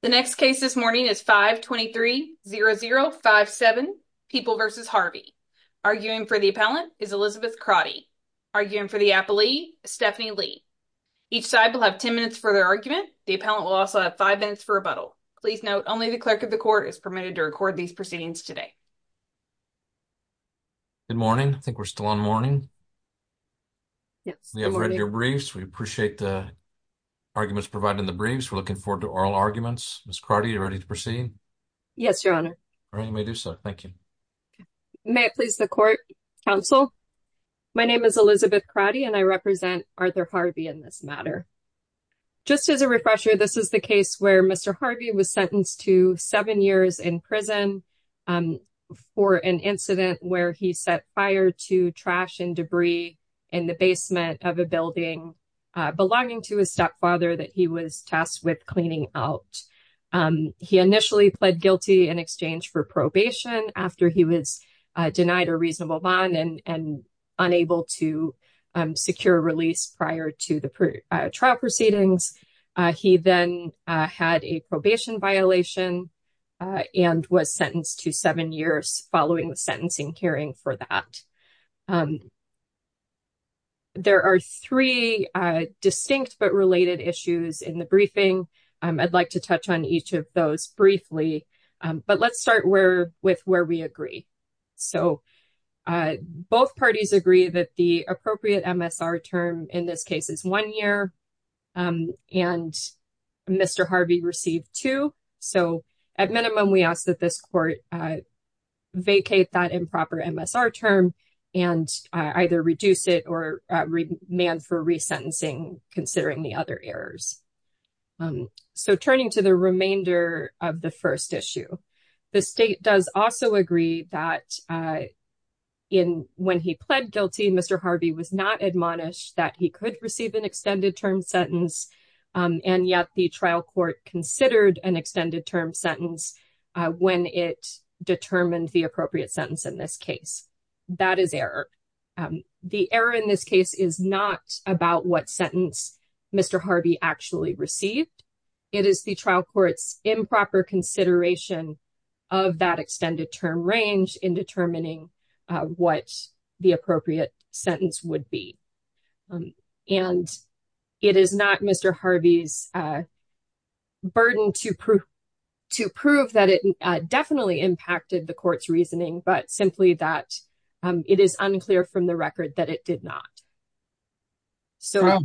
The next case this morning is 523-0057 People v. Harvey. Arguing for the appellant is Elizabeth Crotty. Arguing for the appellee is Stephanie Lee. Each side will have 10 minutes for their argument. The appellant will also have five minutes for rebuttal. Please note only the clerk of the court is permitted to record these proceedings today. Good morning. I think we're still on morning. Yes, we have read your briefs. We appreciate the arguments provided in the briefs. We're looking forward to oral arguments. Ms. Crotty, are you ready to proceed? Yes, Your Honor. All right, you may do so. Thank you. May I please the court, counsel? My name is Elizabeth Crotty and I represent Arthur Harvey in this matter. Just as a refresher, this is the case where Mr. Harvey was sentenced to seven years in prison for an incident where he set fire to trash and debris in the basement of a building belonging to his stepfather that he was tasked with cleaning out. He initially pled guilty in exchange for probation after he was denied a reasonable bond and unable to secure release prior to the trial proceedings. He then had a probation violation and was sentenced to seven years following the sentencing hearing for that. There are three distinct but related issues in the briefing. I'd like to touch on each of those briefly, but let's start with where we agree. So both parties agree that the appropriate MSR term in this case is one year and Mr. Harvey received two. So at minimum, we ask that this court vacate that improper MSR term and either reduce it or remand for resentencing considering the other errors. So turning to the remainder of the first issue, the state does also agree that when he pled guilty, Mr. Harvey was not admonished that he could receive an extended term sentence and yet the trial court considered an extended term sentence when it determined the appropriate sentence in this case. That is error. The error in this case is not about what sentence Mr. Harvey actually received. It is the trial court's improper consideration of that extended term range in determining what the appropriate sentence would be. And it is not Mr. Harvey's burden to prove that it definitely impacted the court's reasoning, but simply that it is unclear from the record that it did not. So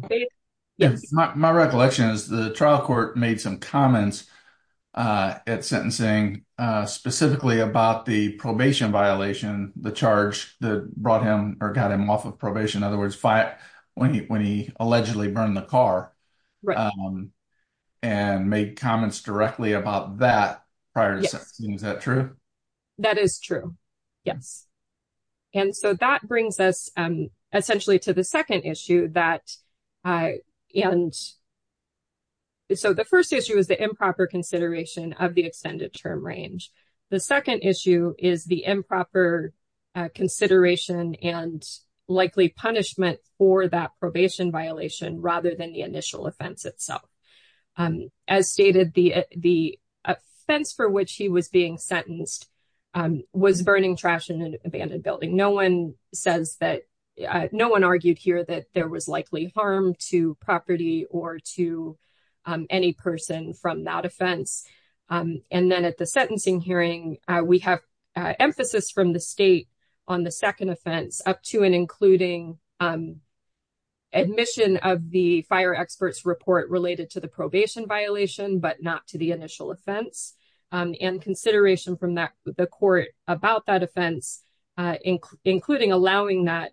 my recollection is the trial court made some comments at sentencing specifically about the probation violation, the charge that brought him or got him off of probation. In other words, when he allegedly burned the car and made comments directly about that prior to sentencing. Is that true? That is true. Yes. And so that brings us essentially to the second issue that and so the first issue is the improper consideration of the extended term range. The second issue is the improper consideration and likely punishment for that probation violation rather than the initial offense itself. As stated, the offense for which he was being sentenced was burning trash in an abandoned building. No one says that no one argued here that there was likely harm to property or to any person from that offense. And then at the sentencing hearing, we have emphasis from the state on the second offense up to and including admission of the fire experts report related to the probation violation, but not to the initial offense and consideration from that the court about that offense, including allowing that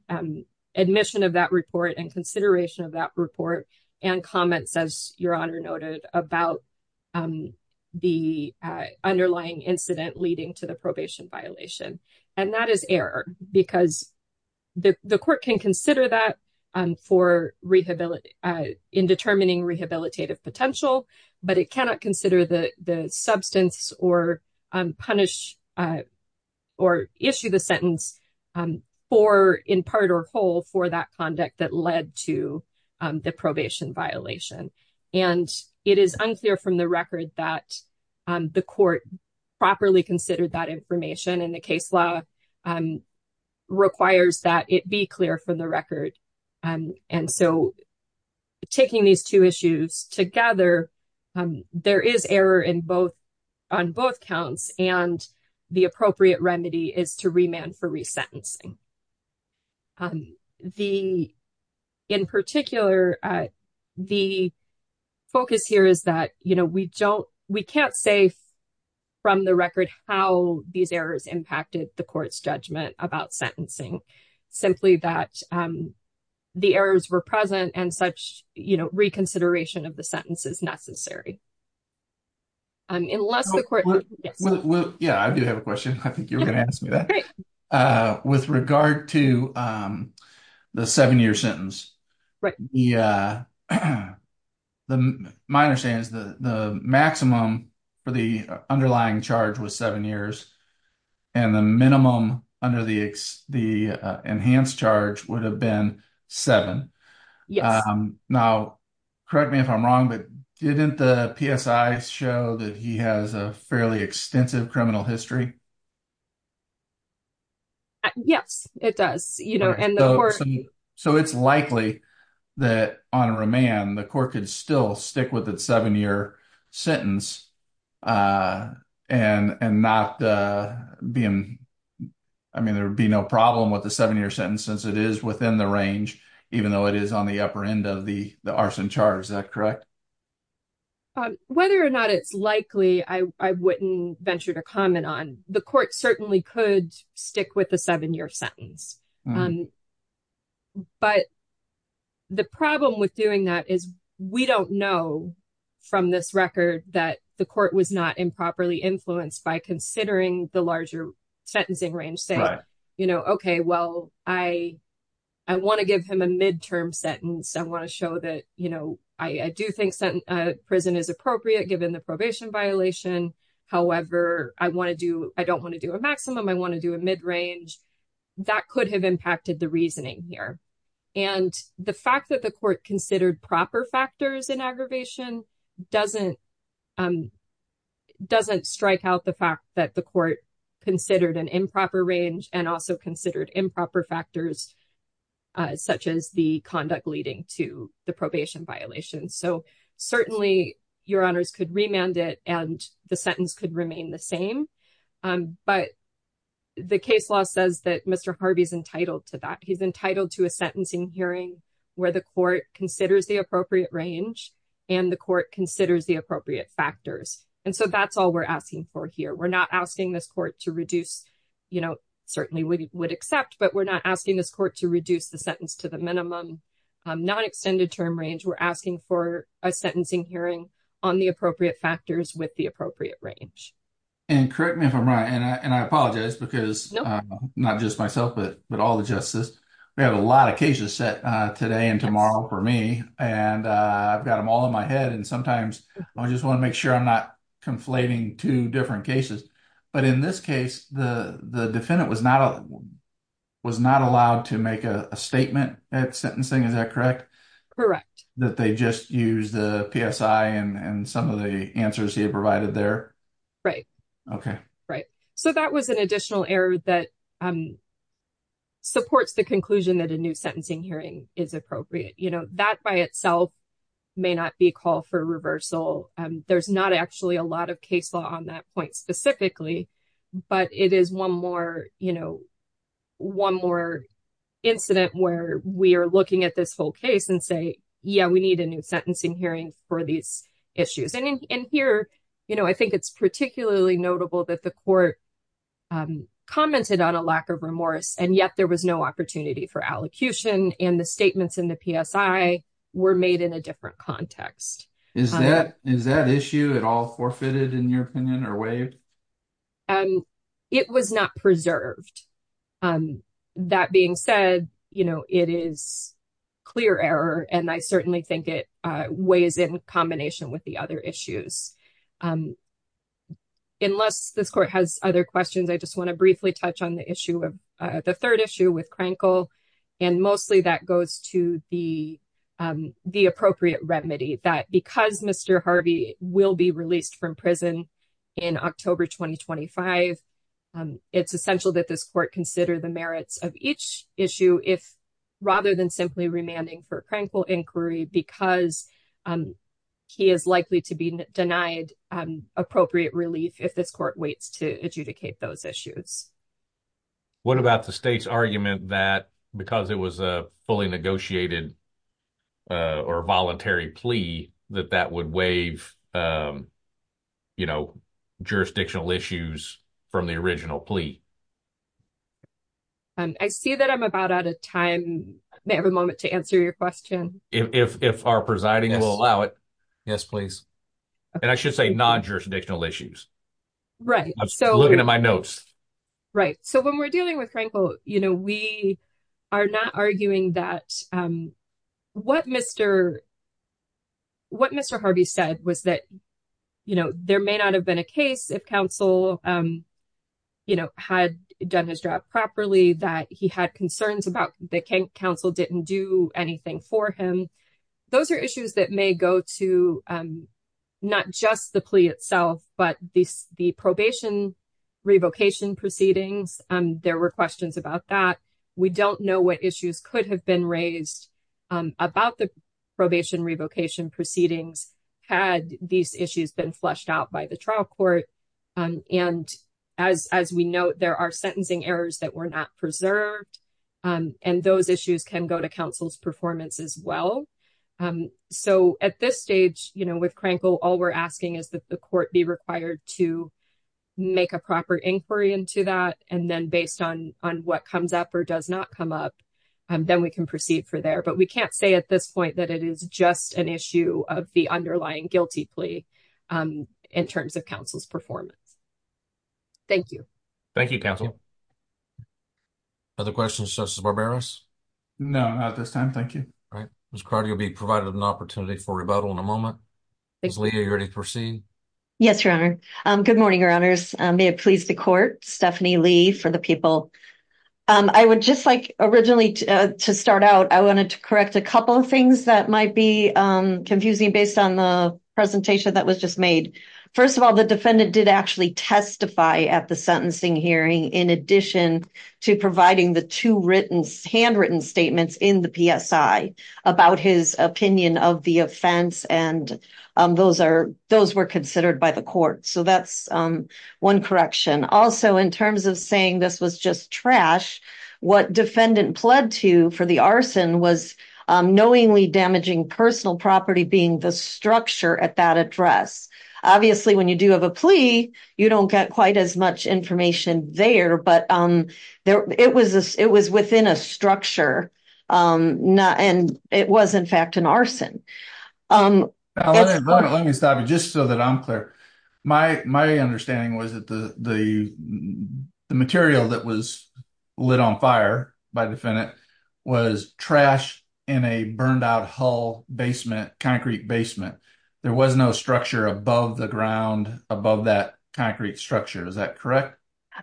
admission of that report and consideration of that report and comments as your honor noted about the underlying incident leading to the probation violation. And that is error because the court can consider that for rehabilitation in determining rehabilitative potential, but it cannot consider the substance or punish or issue the sentence for in part or whole for that conduct that led to the probation violation. And it is unclear from the record that the court properly considered that information and the case law requires that it be clear from the record. And so taking these two issues together, there is error in both on both counts and the appropriate remedy is to remand for resentencing. The in particular, the focus here is that, you know, we don't we can't say from the record how these errors impacted the court's judgment about sentencing. Simply that the errors were present and such, you know, reconsideration of the sentence is necessary. Unless the court. Well, yeah, I do have a question. I think you're going to ask me that with regard to the seven year sentence. Right. Yeah. My understanding is that the maximum for the underlying charge was seven years and the minimum under the enhanced charge would have been seven. Yes. Now, correct me if I'm wrong, but didn't the PSI show that he has a fairly extensive criminal history? Yes, it does. You know, and so it's likely that on remand, the court could still stick with its seven year sentence and not being I mean, there would be no problem with the seven year sentence since it is within the range, even though it is on the upper end of the arson charge. Is that correct? Whether or not it's likely, I wouldn't venture to comment on. The court certainly could stick with the seven year sentence. But the problem with doing that is we don't know from this record that the court was not improperly influenced by considering the larger sentencing range. You know, OK, well, I I want to give him a midterm sentence. I want to show that, you know, I do think prison is appropriate given the probation violation. However, I want to do I don't want to do a maximum. I want to do a mid range that could have impacted the reasoning here. And the fact that the court considered proper factors in aggravation doesn't doesn't strike out the fact that the court considered an improper range and also considered improper factors such as the conduct leading to the probation violation. So certainly your honors could remand it and the sentence could remain the same. But the case law says that Mr. Harvey is entitled to that. He's entitled to a sentencing hearing where the court considers the appropriate range and the court considers the appropriate factors. And so that's all we're asking for here. We're not asking this court to reduce, you know, certainly we would accept, but we're not asking this court to reduce the sentence to the minimum non-extended term range. We're asking for a sentencing hearing on the appropriate factors with the appropriate range. And correct me if I'm right. And I apologize because not just myself, but all the justice. We have a lot of cases set today and tomorrow for me. And I've got them all in my head. And sometimes I just want to make sure I'm not conflating two different cases. But in this case, the defendant was not allowed to make a statement at sentencing. Is that correct? Correct. That they just use the PSI and some of the answers he provided there. Right. OK. Right. So that was an additional error that supports the conclusion that a new sentencing hearing is appropriate. You know, that by itself may not be a call for reversal. There's not actually a lot of case law on that point specifically. But it is one more, you know, one more incident where we are looking at this whole case and say, yeah, we need a new sentencing hearing for these issues. And here, you know, I think it's particularly notable that the court commented on a lack of remorse. And yet there was no opportunity for allocution. And the statements in the PSI were made in a different context. Is that is that issue at all forfeited in your opinion or waived? It was not preserved. That being said, you know, it is clear error. And I certainly think it weighs in combination with the other issues. Unless this court has other questions, I just want to briefly touch on the issue of the third issue with Crankle. And mostly that goes to the the appropriate remedy that because Mr. Harvey will be released from prison in October 2025, it's essential that this court consider the merits of each issue if rather than simply remanding for Crankle inquiry, because he is likely to be denied appropriate relief if this court waits to adjudicate those issues. What about the state's argument that because it was a fully negotiated or voluntary plea that that would waive, you know, jurisdictional issues from the original plea? I see that I'm about out of time. May have a moment to answer your question. If our presiding will allow it. Yes, please. And I should say non-jurisdictional issues. Right. So looking at my notes. Right. So when we're dealing with Crankle, you know, we are not arguing that what Mr. What Mr. Harvey said was that, you know, there may not have been a case if counsel, you know, had done his job properly, that he had concerns about the council didn't do anything for him. Those are issues that may go to not just the plea itself, but the probation revocation proceedings. There were questions about that. We don't know what issues could have been raised about the probation revocation proceedings. Had these issues been flushed out by the trial court. And as as we know, there are sentencing errors that were not preserved. And those issues can go to counsel's performance as well. So at this stage, you know, with Crankle, all we're asking is that the court be required to make a proper inquiry into that. And then based on on what comes up or does not come up, then we can proceed for there. But we can't say at this point that it is just an issue of the underlying guilty plea in terms of counsel's performance. Thank you. Thank you, counsel. Other questions, Justice Barberos? No, not this time. Thank you. All right. Ms. Crowder, you'll be provided an opportunity for rebuttal in a moment. Ms. Lee, are you ready to proceed? Yes, Your Honor. Good morning, Your Honors. May it please the court. Stephanie Lee for the people. I would just like originally to start out. I wanted to correct a couple of things that might be confusing based on the presentation that was just made. First of all, the defendant did actually testify at the sentencing hearing, in addition to providing the two written handwritten statements in the PSI about his opinion of the offense. And those are those were considered by the court. So that's one correction. Also, in terms of saying this was just trash, what defendant pled to for the arson was knowingly damaging personal property, being the structure at that address. Obviously, when you do have a plea, you don't get quite as much information there. But it was within a structure and it was, in fact, an arson. Let me stop you just so that I'm clear. My understanding was that the material that was lit on fire by the defendant was trash in a burned out hull basement, concrete basement. There was no structure above the ground above that concrete structure. Is that correct?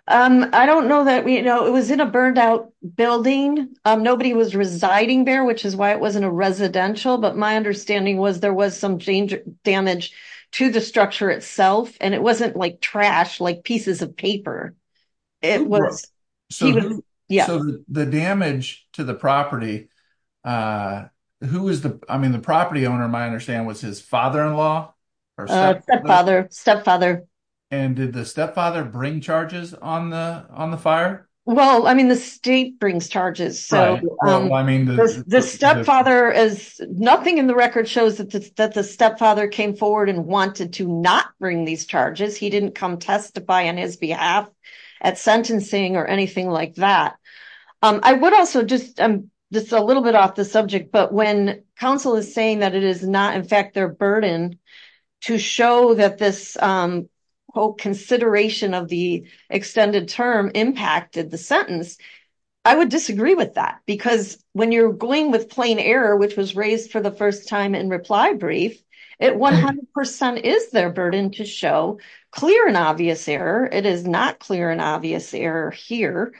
I don't know that we know it was in a burned out building. Nobody was residing there, which is why it wasn't a residential. But my understanding was there was some damage to the structure itself. And it wasn't like trash, like pieces of paper. It was. Yeah. The damage to the property. Who is the I mean, the property owner, my understanding was his father in law or stepfather stepfather. And did the stepfather bring charges on the on the fire? Well, I mean, the state brings charges. So, I mean, the stepfather is nothing in the record shows that the stepfather came forward and wanted to not bring these charges. He didn't come testify on his behalf at sentencing or anything like that. I would also just this a little bit off the subject but when counsel is saying that it is not in fact their burden to show that this whole consideration of the extended term impacted the sentence. I would disagree with that because when you're going with plain error, which was raised for the first time in reply brief, it 100% is their burden to show clear and obvious error. It is not clear and obvious error here.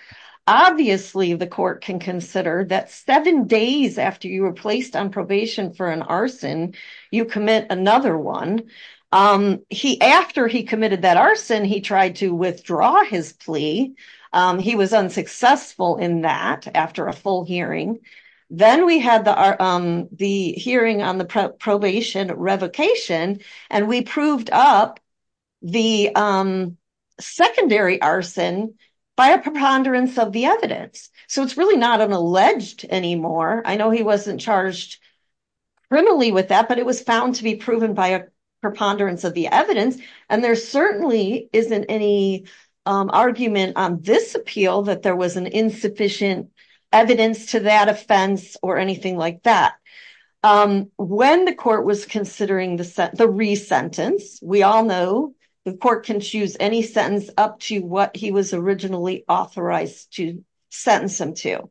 Obviously, the court can consider that seven days after you were placed on probation for an arson, you commit another one. After he committed that arson, he tried to withdraw his plea. He was unsuccessful in that after a full hearing. Then we had the hearing on the probation revocation and we proved up the secondary arson by a preponderance of the evidence. So, it's really not an alleged anymore. I know he wasn't charged criminally with that but it was found to be proven by a preponderance of the evidence. There certainly isn't any argument on this appeal that there was an insufficient evidence to that offense or anything like that. When the court was considering the re-sentence, we all know the court can choose any sentence up to what he was originally authorized to sentence him to.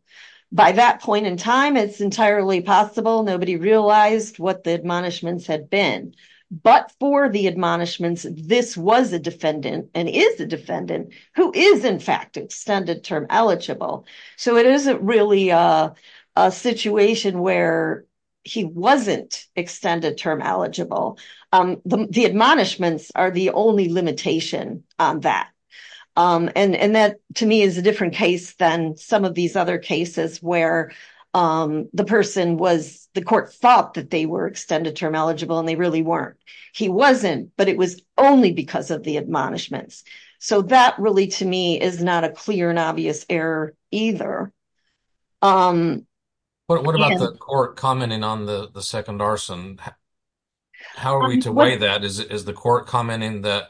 By that point in time, it's entirely possible nobody realized what the admonishments had been. But for the admonishments, this was a defendant and is a defendant who is in fact extended term eligible. So, it isn't really a situation where he wasn't extended term eligible. The admonishments are the only limitation on that. That to me is a different case than some of these other cases where the court thought that they were extended term eligible and they really weren't. He wasn't but it was only because of the admonishments. So, that really to me is not a clear and obvious error either. What about the court commenting on the second arson? How are we to weigh that? Is the court commenting that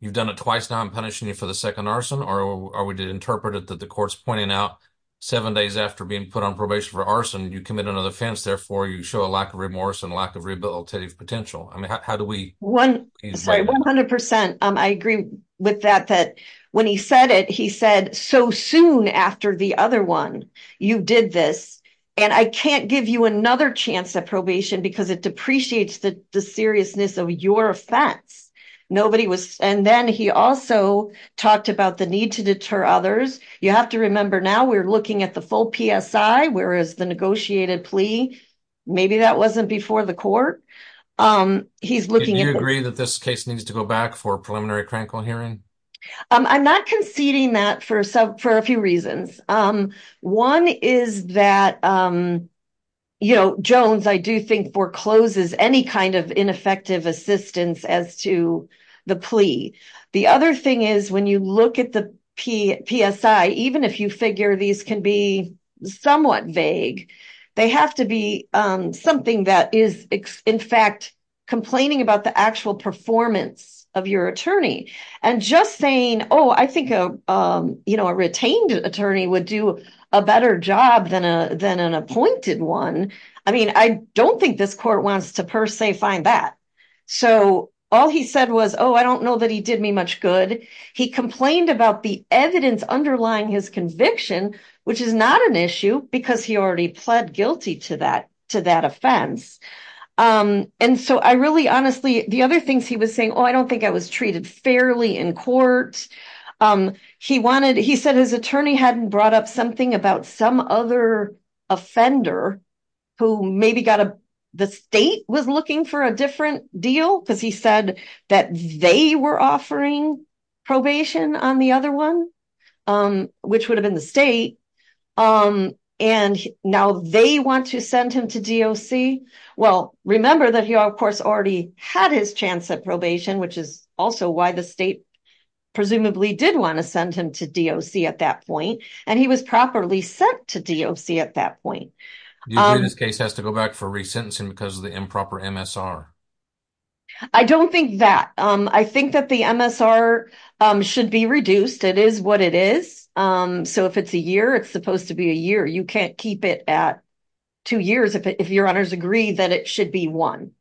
you've done it twice now and punishing you for the second arson? Or are we to interpret it that the court's pointing out seven days after being put on probation for arson, you commit another offense. Therefore, you show a lack of remorse and lack of rehabilitative potential. I mean, how do we? 100%. I agree with that. When he said it, he said, so soon after the other one, you did this. And I can't give you another chance at probation because it depreciates the seriousness of your offense. And then he also talked about the need to deter others. You have to remember now we're looking at the full PSI, whereas the negotiated plea, maybe that wasn't before the court. Did you agree that this case needs to go back for a preliminary clinical hearing? I'm not conceding that for a few reasons. One is that Jones, I do think, forecloses any kind of ineffective assistance as to the plea. The other thing is when you look at the PSI, even if you figure these can be somewhat vague, they have to be something that is, in fact, complaining about the actual performance of your attorney. And just saying, oh, I think a retained attorney would do a better job than an appointed one. I mean, I don't think this court wants to per se find that. So all he said was, oh, I don't know that he did me much good. He complained about the evidence underlying his conviction, which is not an issue because he already pled guilty to that offense. And so I really, honestly, the other things he was saying, oh, I don't think I was treated fairly in court. He said his attorney hadn't brought up something about some other offender who maybe the state was looking for a different deal because he said that they were offering probation on the other one, which would have been the state. And now they want to send him to DOC. Well, remember that he, of course, already had his chance at probation, which is also why the state presumably did want to send him to DOC at that point. And he was properly sent to DOC at that point. This case has to go back for re-sentencing because of the improper MSR. I don't think that. I think that the MSR should be reduced. It is what it is. So if it's a year, it's supposed to be a year. You can't keep it at two years if your honors agree that it should be one.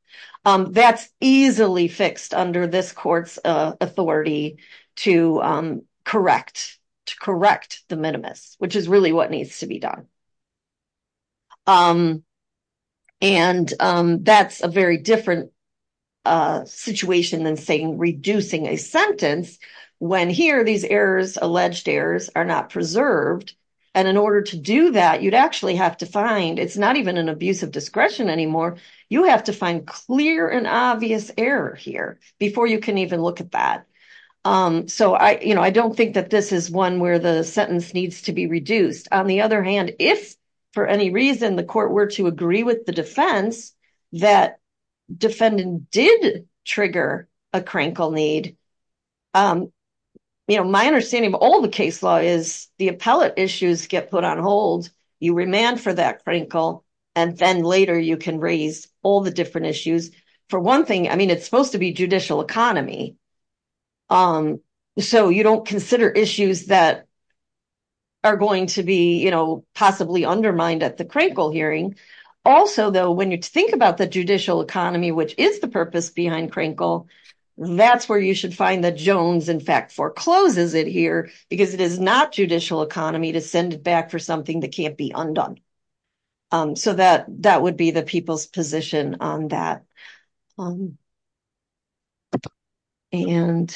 That's easily fixed under this court's authority to correct the minimus, which is really what needs to be done. And that's a very different situation than saying reducing a sentence when here these errors, alleged errors, are not preserved. And in order to do that, you'd actually have to find, it's not even an abuse of discretion anymore. You have to find clear and obvious error here before you can even look at that. So I don't think that this is one where the sentence needs to be reduced. On the other hand, if for any reason the court were to agree with the defense that defendant did trigger a crinkle need, my understanding of all the case law is the appellate issues get put on hold. You remand for that crinkle, and then later you can raise all the different issues. For one thing, I mean, it's supposed to be judicial economy. So you don't consider issues that are going to be, you know, possibly undermined at the crinkle hearing. Also, though, when you think about the judicial economy, which is the purpose behind crinkle, that's where you should find that Jones, in fact, forecloses it here because it is not judicial economy to send it back for something that can't be undone. So that would be the people's position on that. And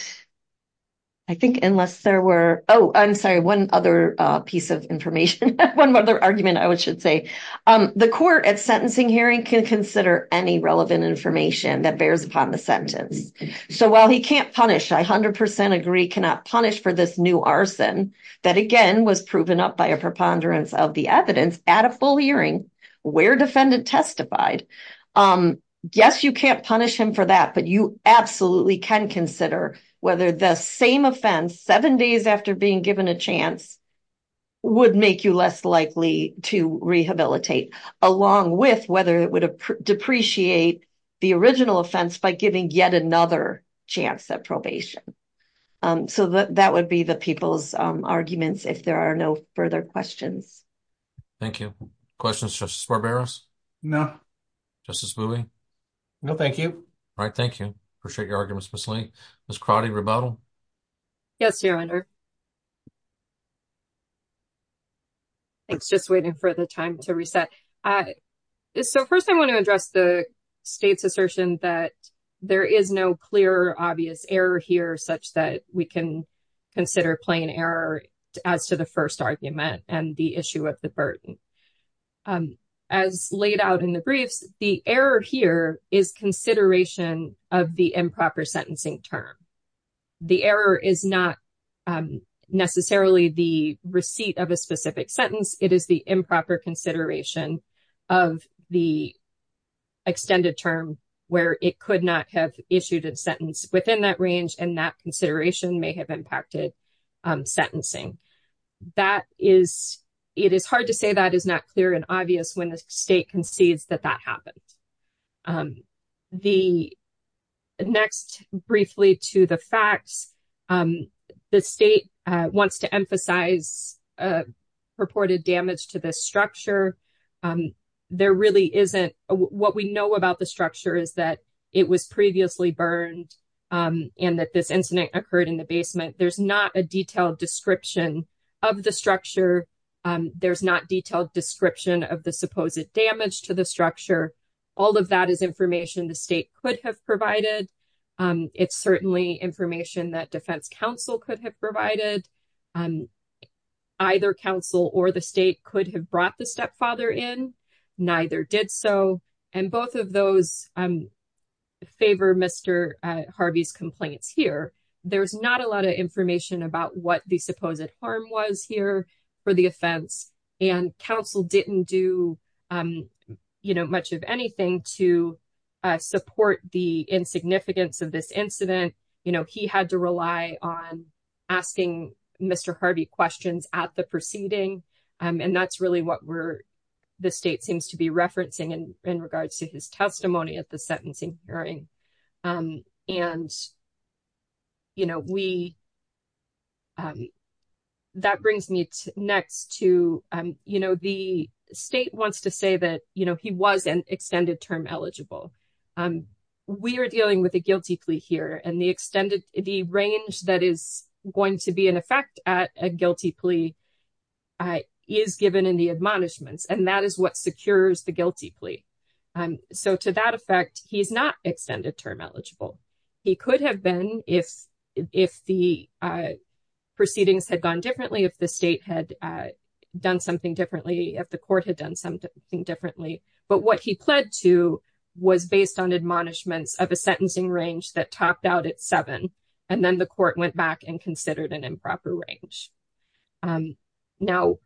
I think unless there were, oh, I'm sorry, one other piece of information, one other argument I should say. The court at sentencing hearing can consider any relevant information that bears upon the sentence. So while he can't punish, I 100% agree, cannot punish for this new arson, that again was proven up by a preponderance of the evidence at a full hearing where defendant testified. Yes, you can't punish him for that, but you absolutely can consider whether the same offense, seven days after being given a chance, would make you less likely to rehabilitate, along with whether it would depreciate the original offense by giving yet another chance at probation. So that would be the people's arguments if there are no further questions. Thank you. Questions, Justice Barberos? No. Justice Luebbe? No, thank you. All right, thank you. Appreciate your arguments, Ms. Lane. Ms. Crotty, rebuttal? Yes, Your Honor. Thanks, just waiting for the time to reset. So first I want to address the state's assertion that there is no clear, obvious error here, such that we can consider plain error as to the first argument and the issue of the burden. As laid out in the briefs, the error here is consideration of the improper sentencing term. The error is not necessarily the receipt of a specific sentence. It is the improper consideration of the extended term where it could not have issued a sentence within that range, and that consideration may have impacted sentencing. It is hard to say that is not clear and obvious when the state concedes that that happened. Next, briefly to the facts, the state wants to emphasize purported damage to the structure. There really isn't. What we know about the structure is that it was previously burned and that this incident occurred in the basement. There's not a detailed description of the structure. There's not detailed description of the supposed damage to the structure. All of that is information the state could have provided. It's certainly information that defense counsel could have provided. Either counsel or the state could have brought the stepfather in. Neither did so, and both of those favor Mr. Harvey's complaints here. There's not a lot of information about what the supposed harm was here for the offense, and counsel didn't do much of anything to support the insignificance of this incident. He had to rely on asking Mr. Harvey questions at the proceeding, and that's really what the state seems to be referencing in regards to his testimony at the sentencing hearing. That brings me next to the state wants to say that he was an extended term eligible. We are dealing with a guilty plea here, and the range that is going to be in effect at a guilty plea is given in the admonishments, and that is what secures the guilty plea. To that effect, he's not extended term eligible. He could have been if the proceedings had gone differently, if the state had done something differently, if the court had done something differently, but what he pled to was based on admonishments of a sentencing range that topped out at seven, and then the court went back and considered an improper range. Now,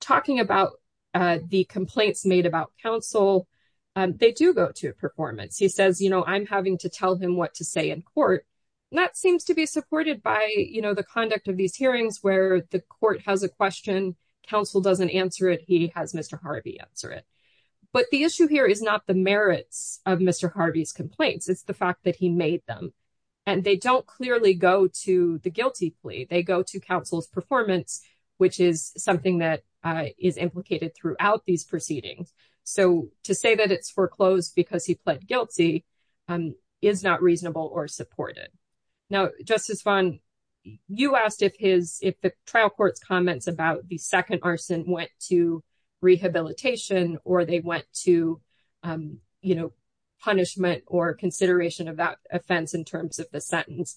talking about the complaints made about counsel, they do go to a performance. He says, I'm having to tell him what to say in court, and that seems to be supported by the conduct of these hearings where the court has a question, counsel doesn't answer it, he has Mr. Harvey answer it, but the issue here is not the merits of Mr. Harvey's complaints. It's the fact that he made them, and they don't clearly go to the guilty plea. They go to counsel's performance, which is something that is implicated throughout these proceedings. So to say that it's foreclosed because he pled guilty is not reasonable or supported. Now, Justice Vaughn, you asked if the trial court's comments about the second arson went to rehabilitation or they went to punishment or consideration of that offense in terms of the sentence.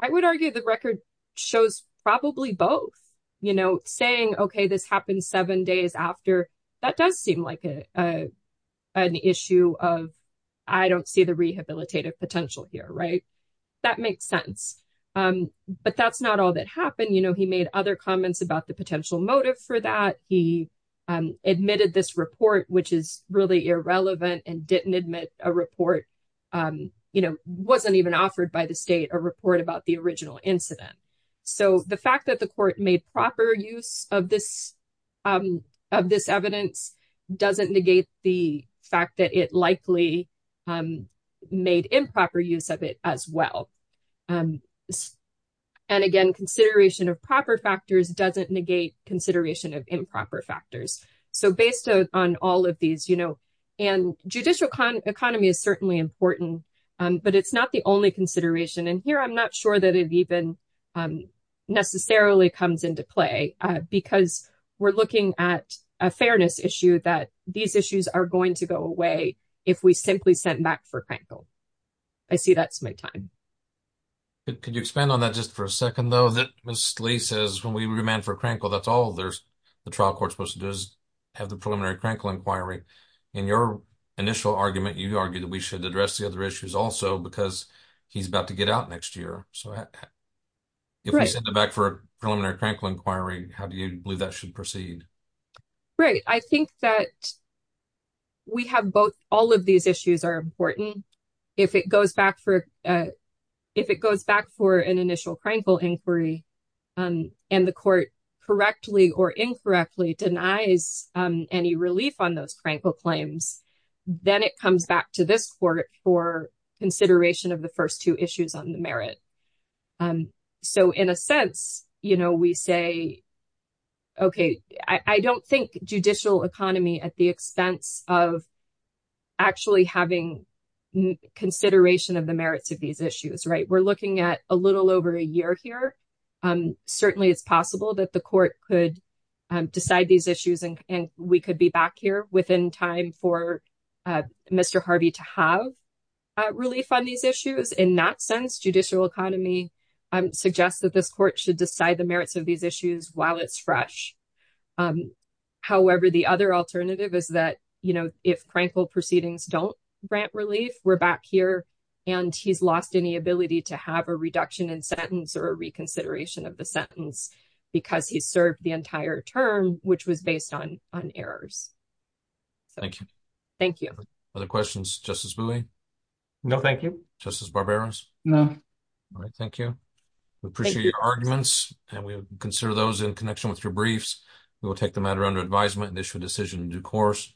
I would argue the record shows probably both. Saying, okay, this happened seven days after, that does seem like an issue of, I don't see the rehabilitative potential here. That makes sense. But that's not all that happened. He made other comments about the potential motive for that. He admitted this report, which is really irrelevant and didn't admit a report, wasn't even offered by the state, a report about the original incident. So the fact that the court made proper use of this evidence doesn't negate the fact that it likely made improper use of it as well. And again, consideration of proper factors doesn't negate consideration of improper factors. So based on all of these, and judicial economy is certainly important, but it's not the only consideration. And here, I'm not sure that it even necessarily comes into play because we're looking at a fairness issue that these issues are going to go away if we simply sent back for Crankle. I see that's my time. Could you expand on that just for a second, though, that Ms. Lee says when we remand for Crankle, that's all the trial court's supposed to do is have the preliminary Crankle inquiry. In your initial argument, you argued that we should address the other issues also because he's about to get out next year. So if we send it back for a preliminary Crankle inquiry, how do you believe that should proceed? Right. I think that we have both. All of these issues are important. If it goes back for an initial Crankle inquiry and the court correctly or incorrectly denies any relief on those Crankle claims, then it comes back to this court for consideration of the first two issues on the merit. So in a sense, you know, we say, okay, I don't think judicial economy at the expense of actually having consideration of the merits of these issues, right? We're looking at a little over a year here. Certainly, it's possible that the court could decide these issues and we could be back here within time for Mr. Harvey to have relief on these issues. In that sense, judicial economy suggests that this court should decide the merits of these issues while it's fresh. However, the other alternative is that, you know, if Crankle proceedings don't grant relief, we're back here and he's lost any ability to have a reduction in sentence or a reconsideration of the sentence because he served the entire term, which was based on errors. Thank you. Other questions, Justice Bowie? No, thank you. Justice Barberos? No. All right, thank you. We appreciate your arguments and we consider those in connection with your briefs. We will take the matter under advisement and issue a decision in due course.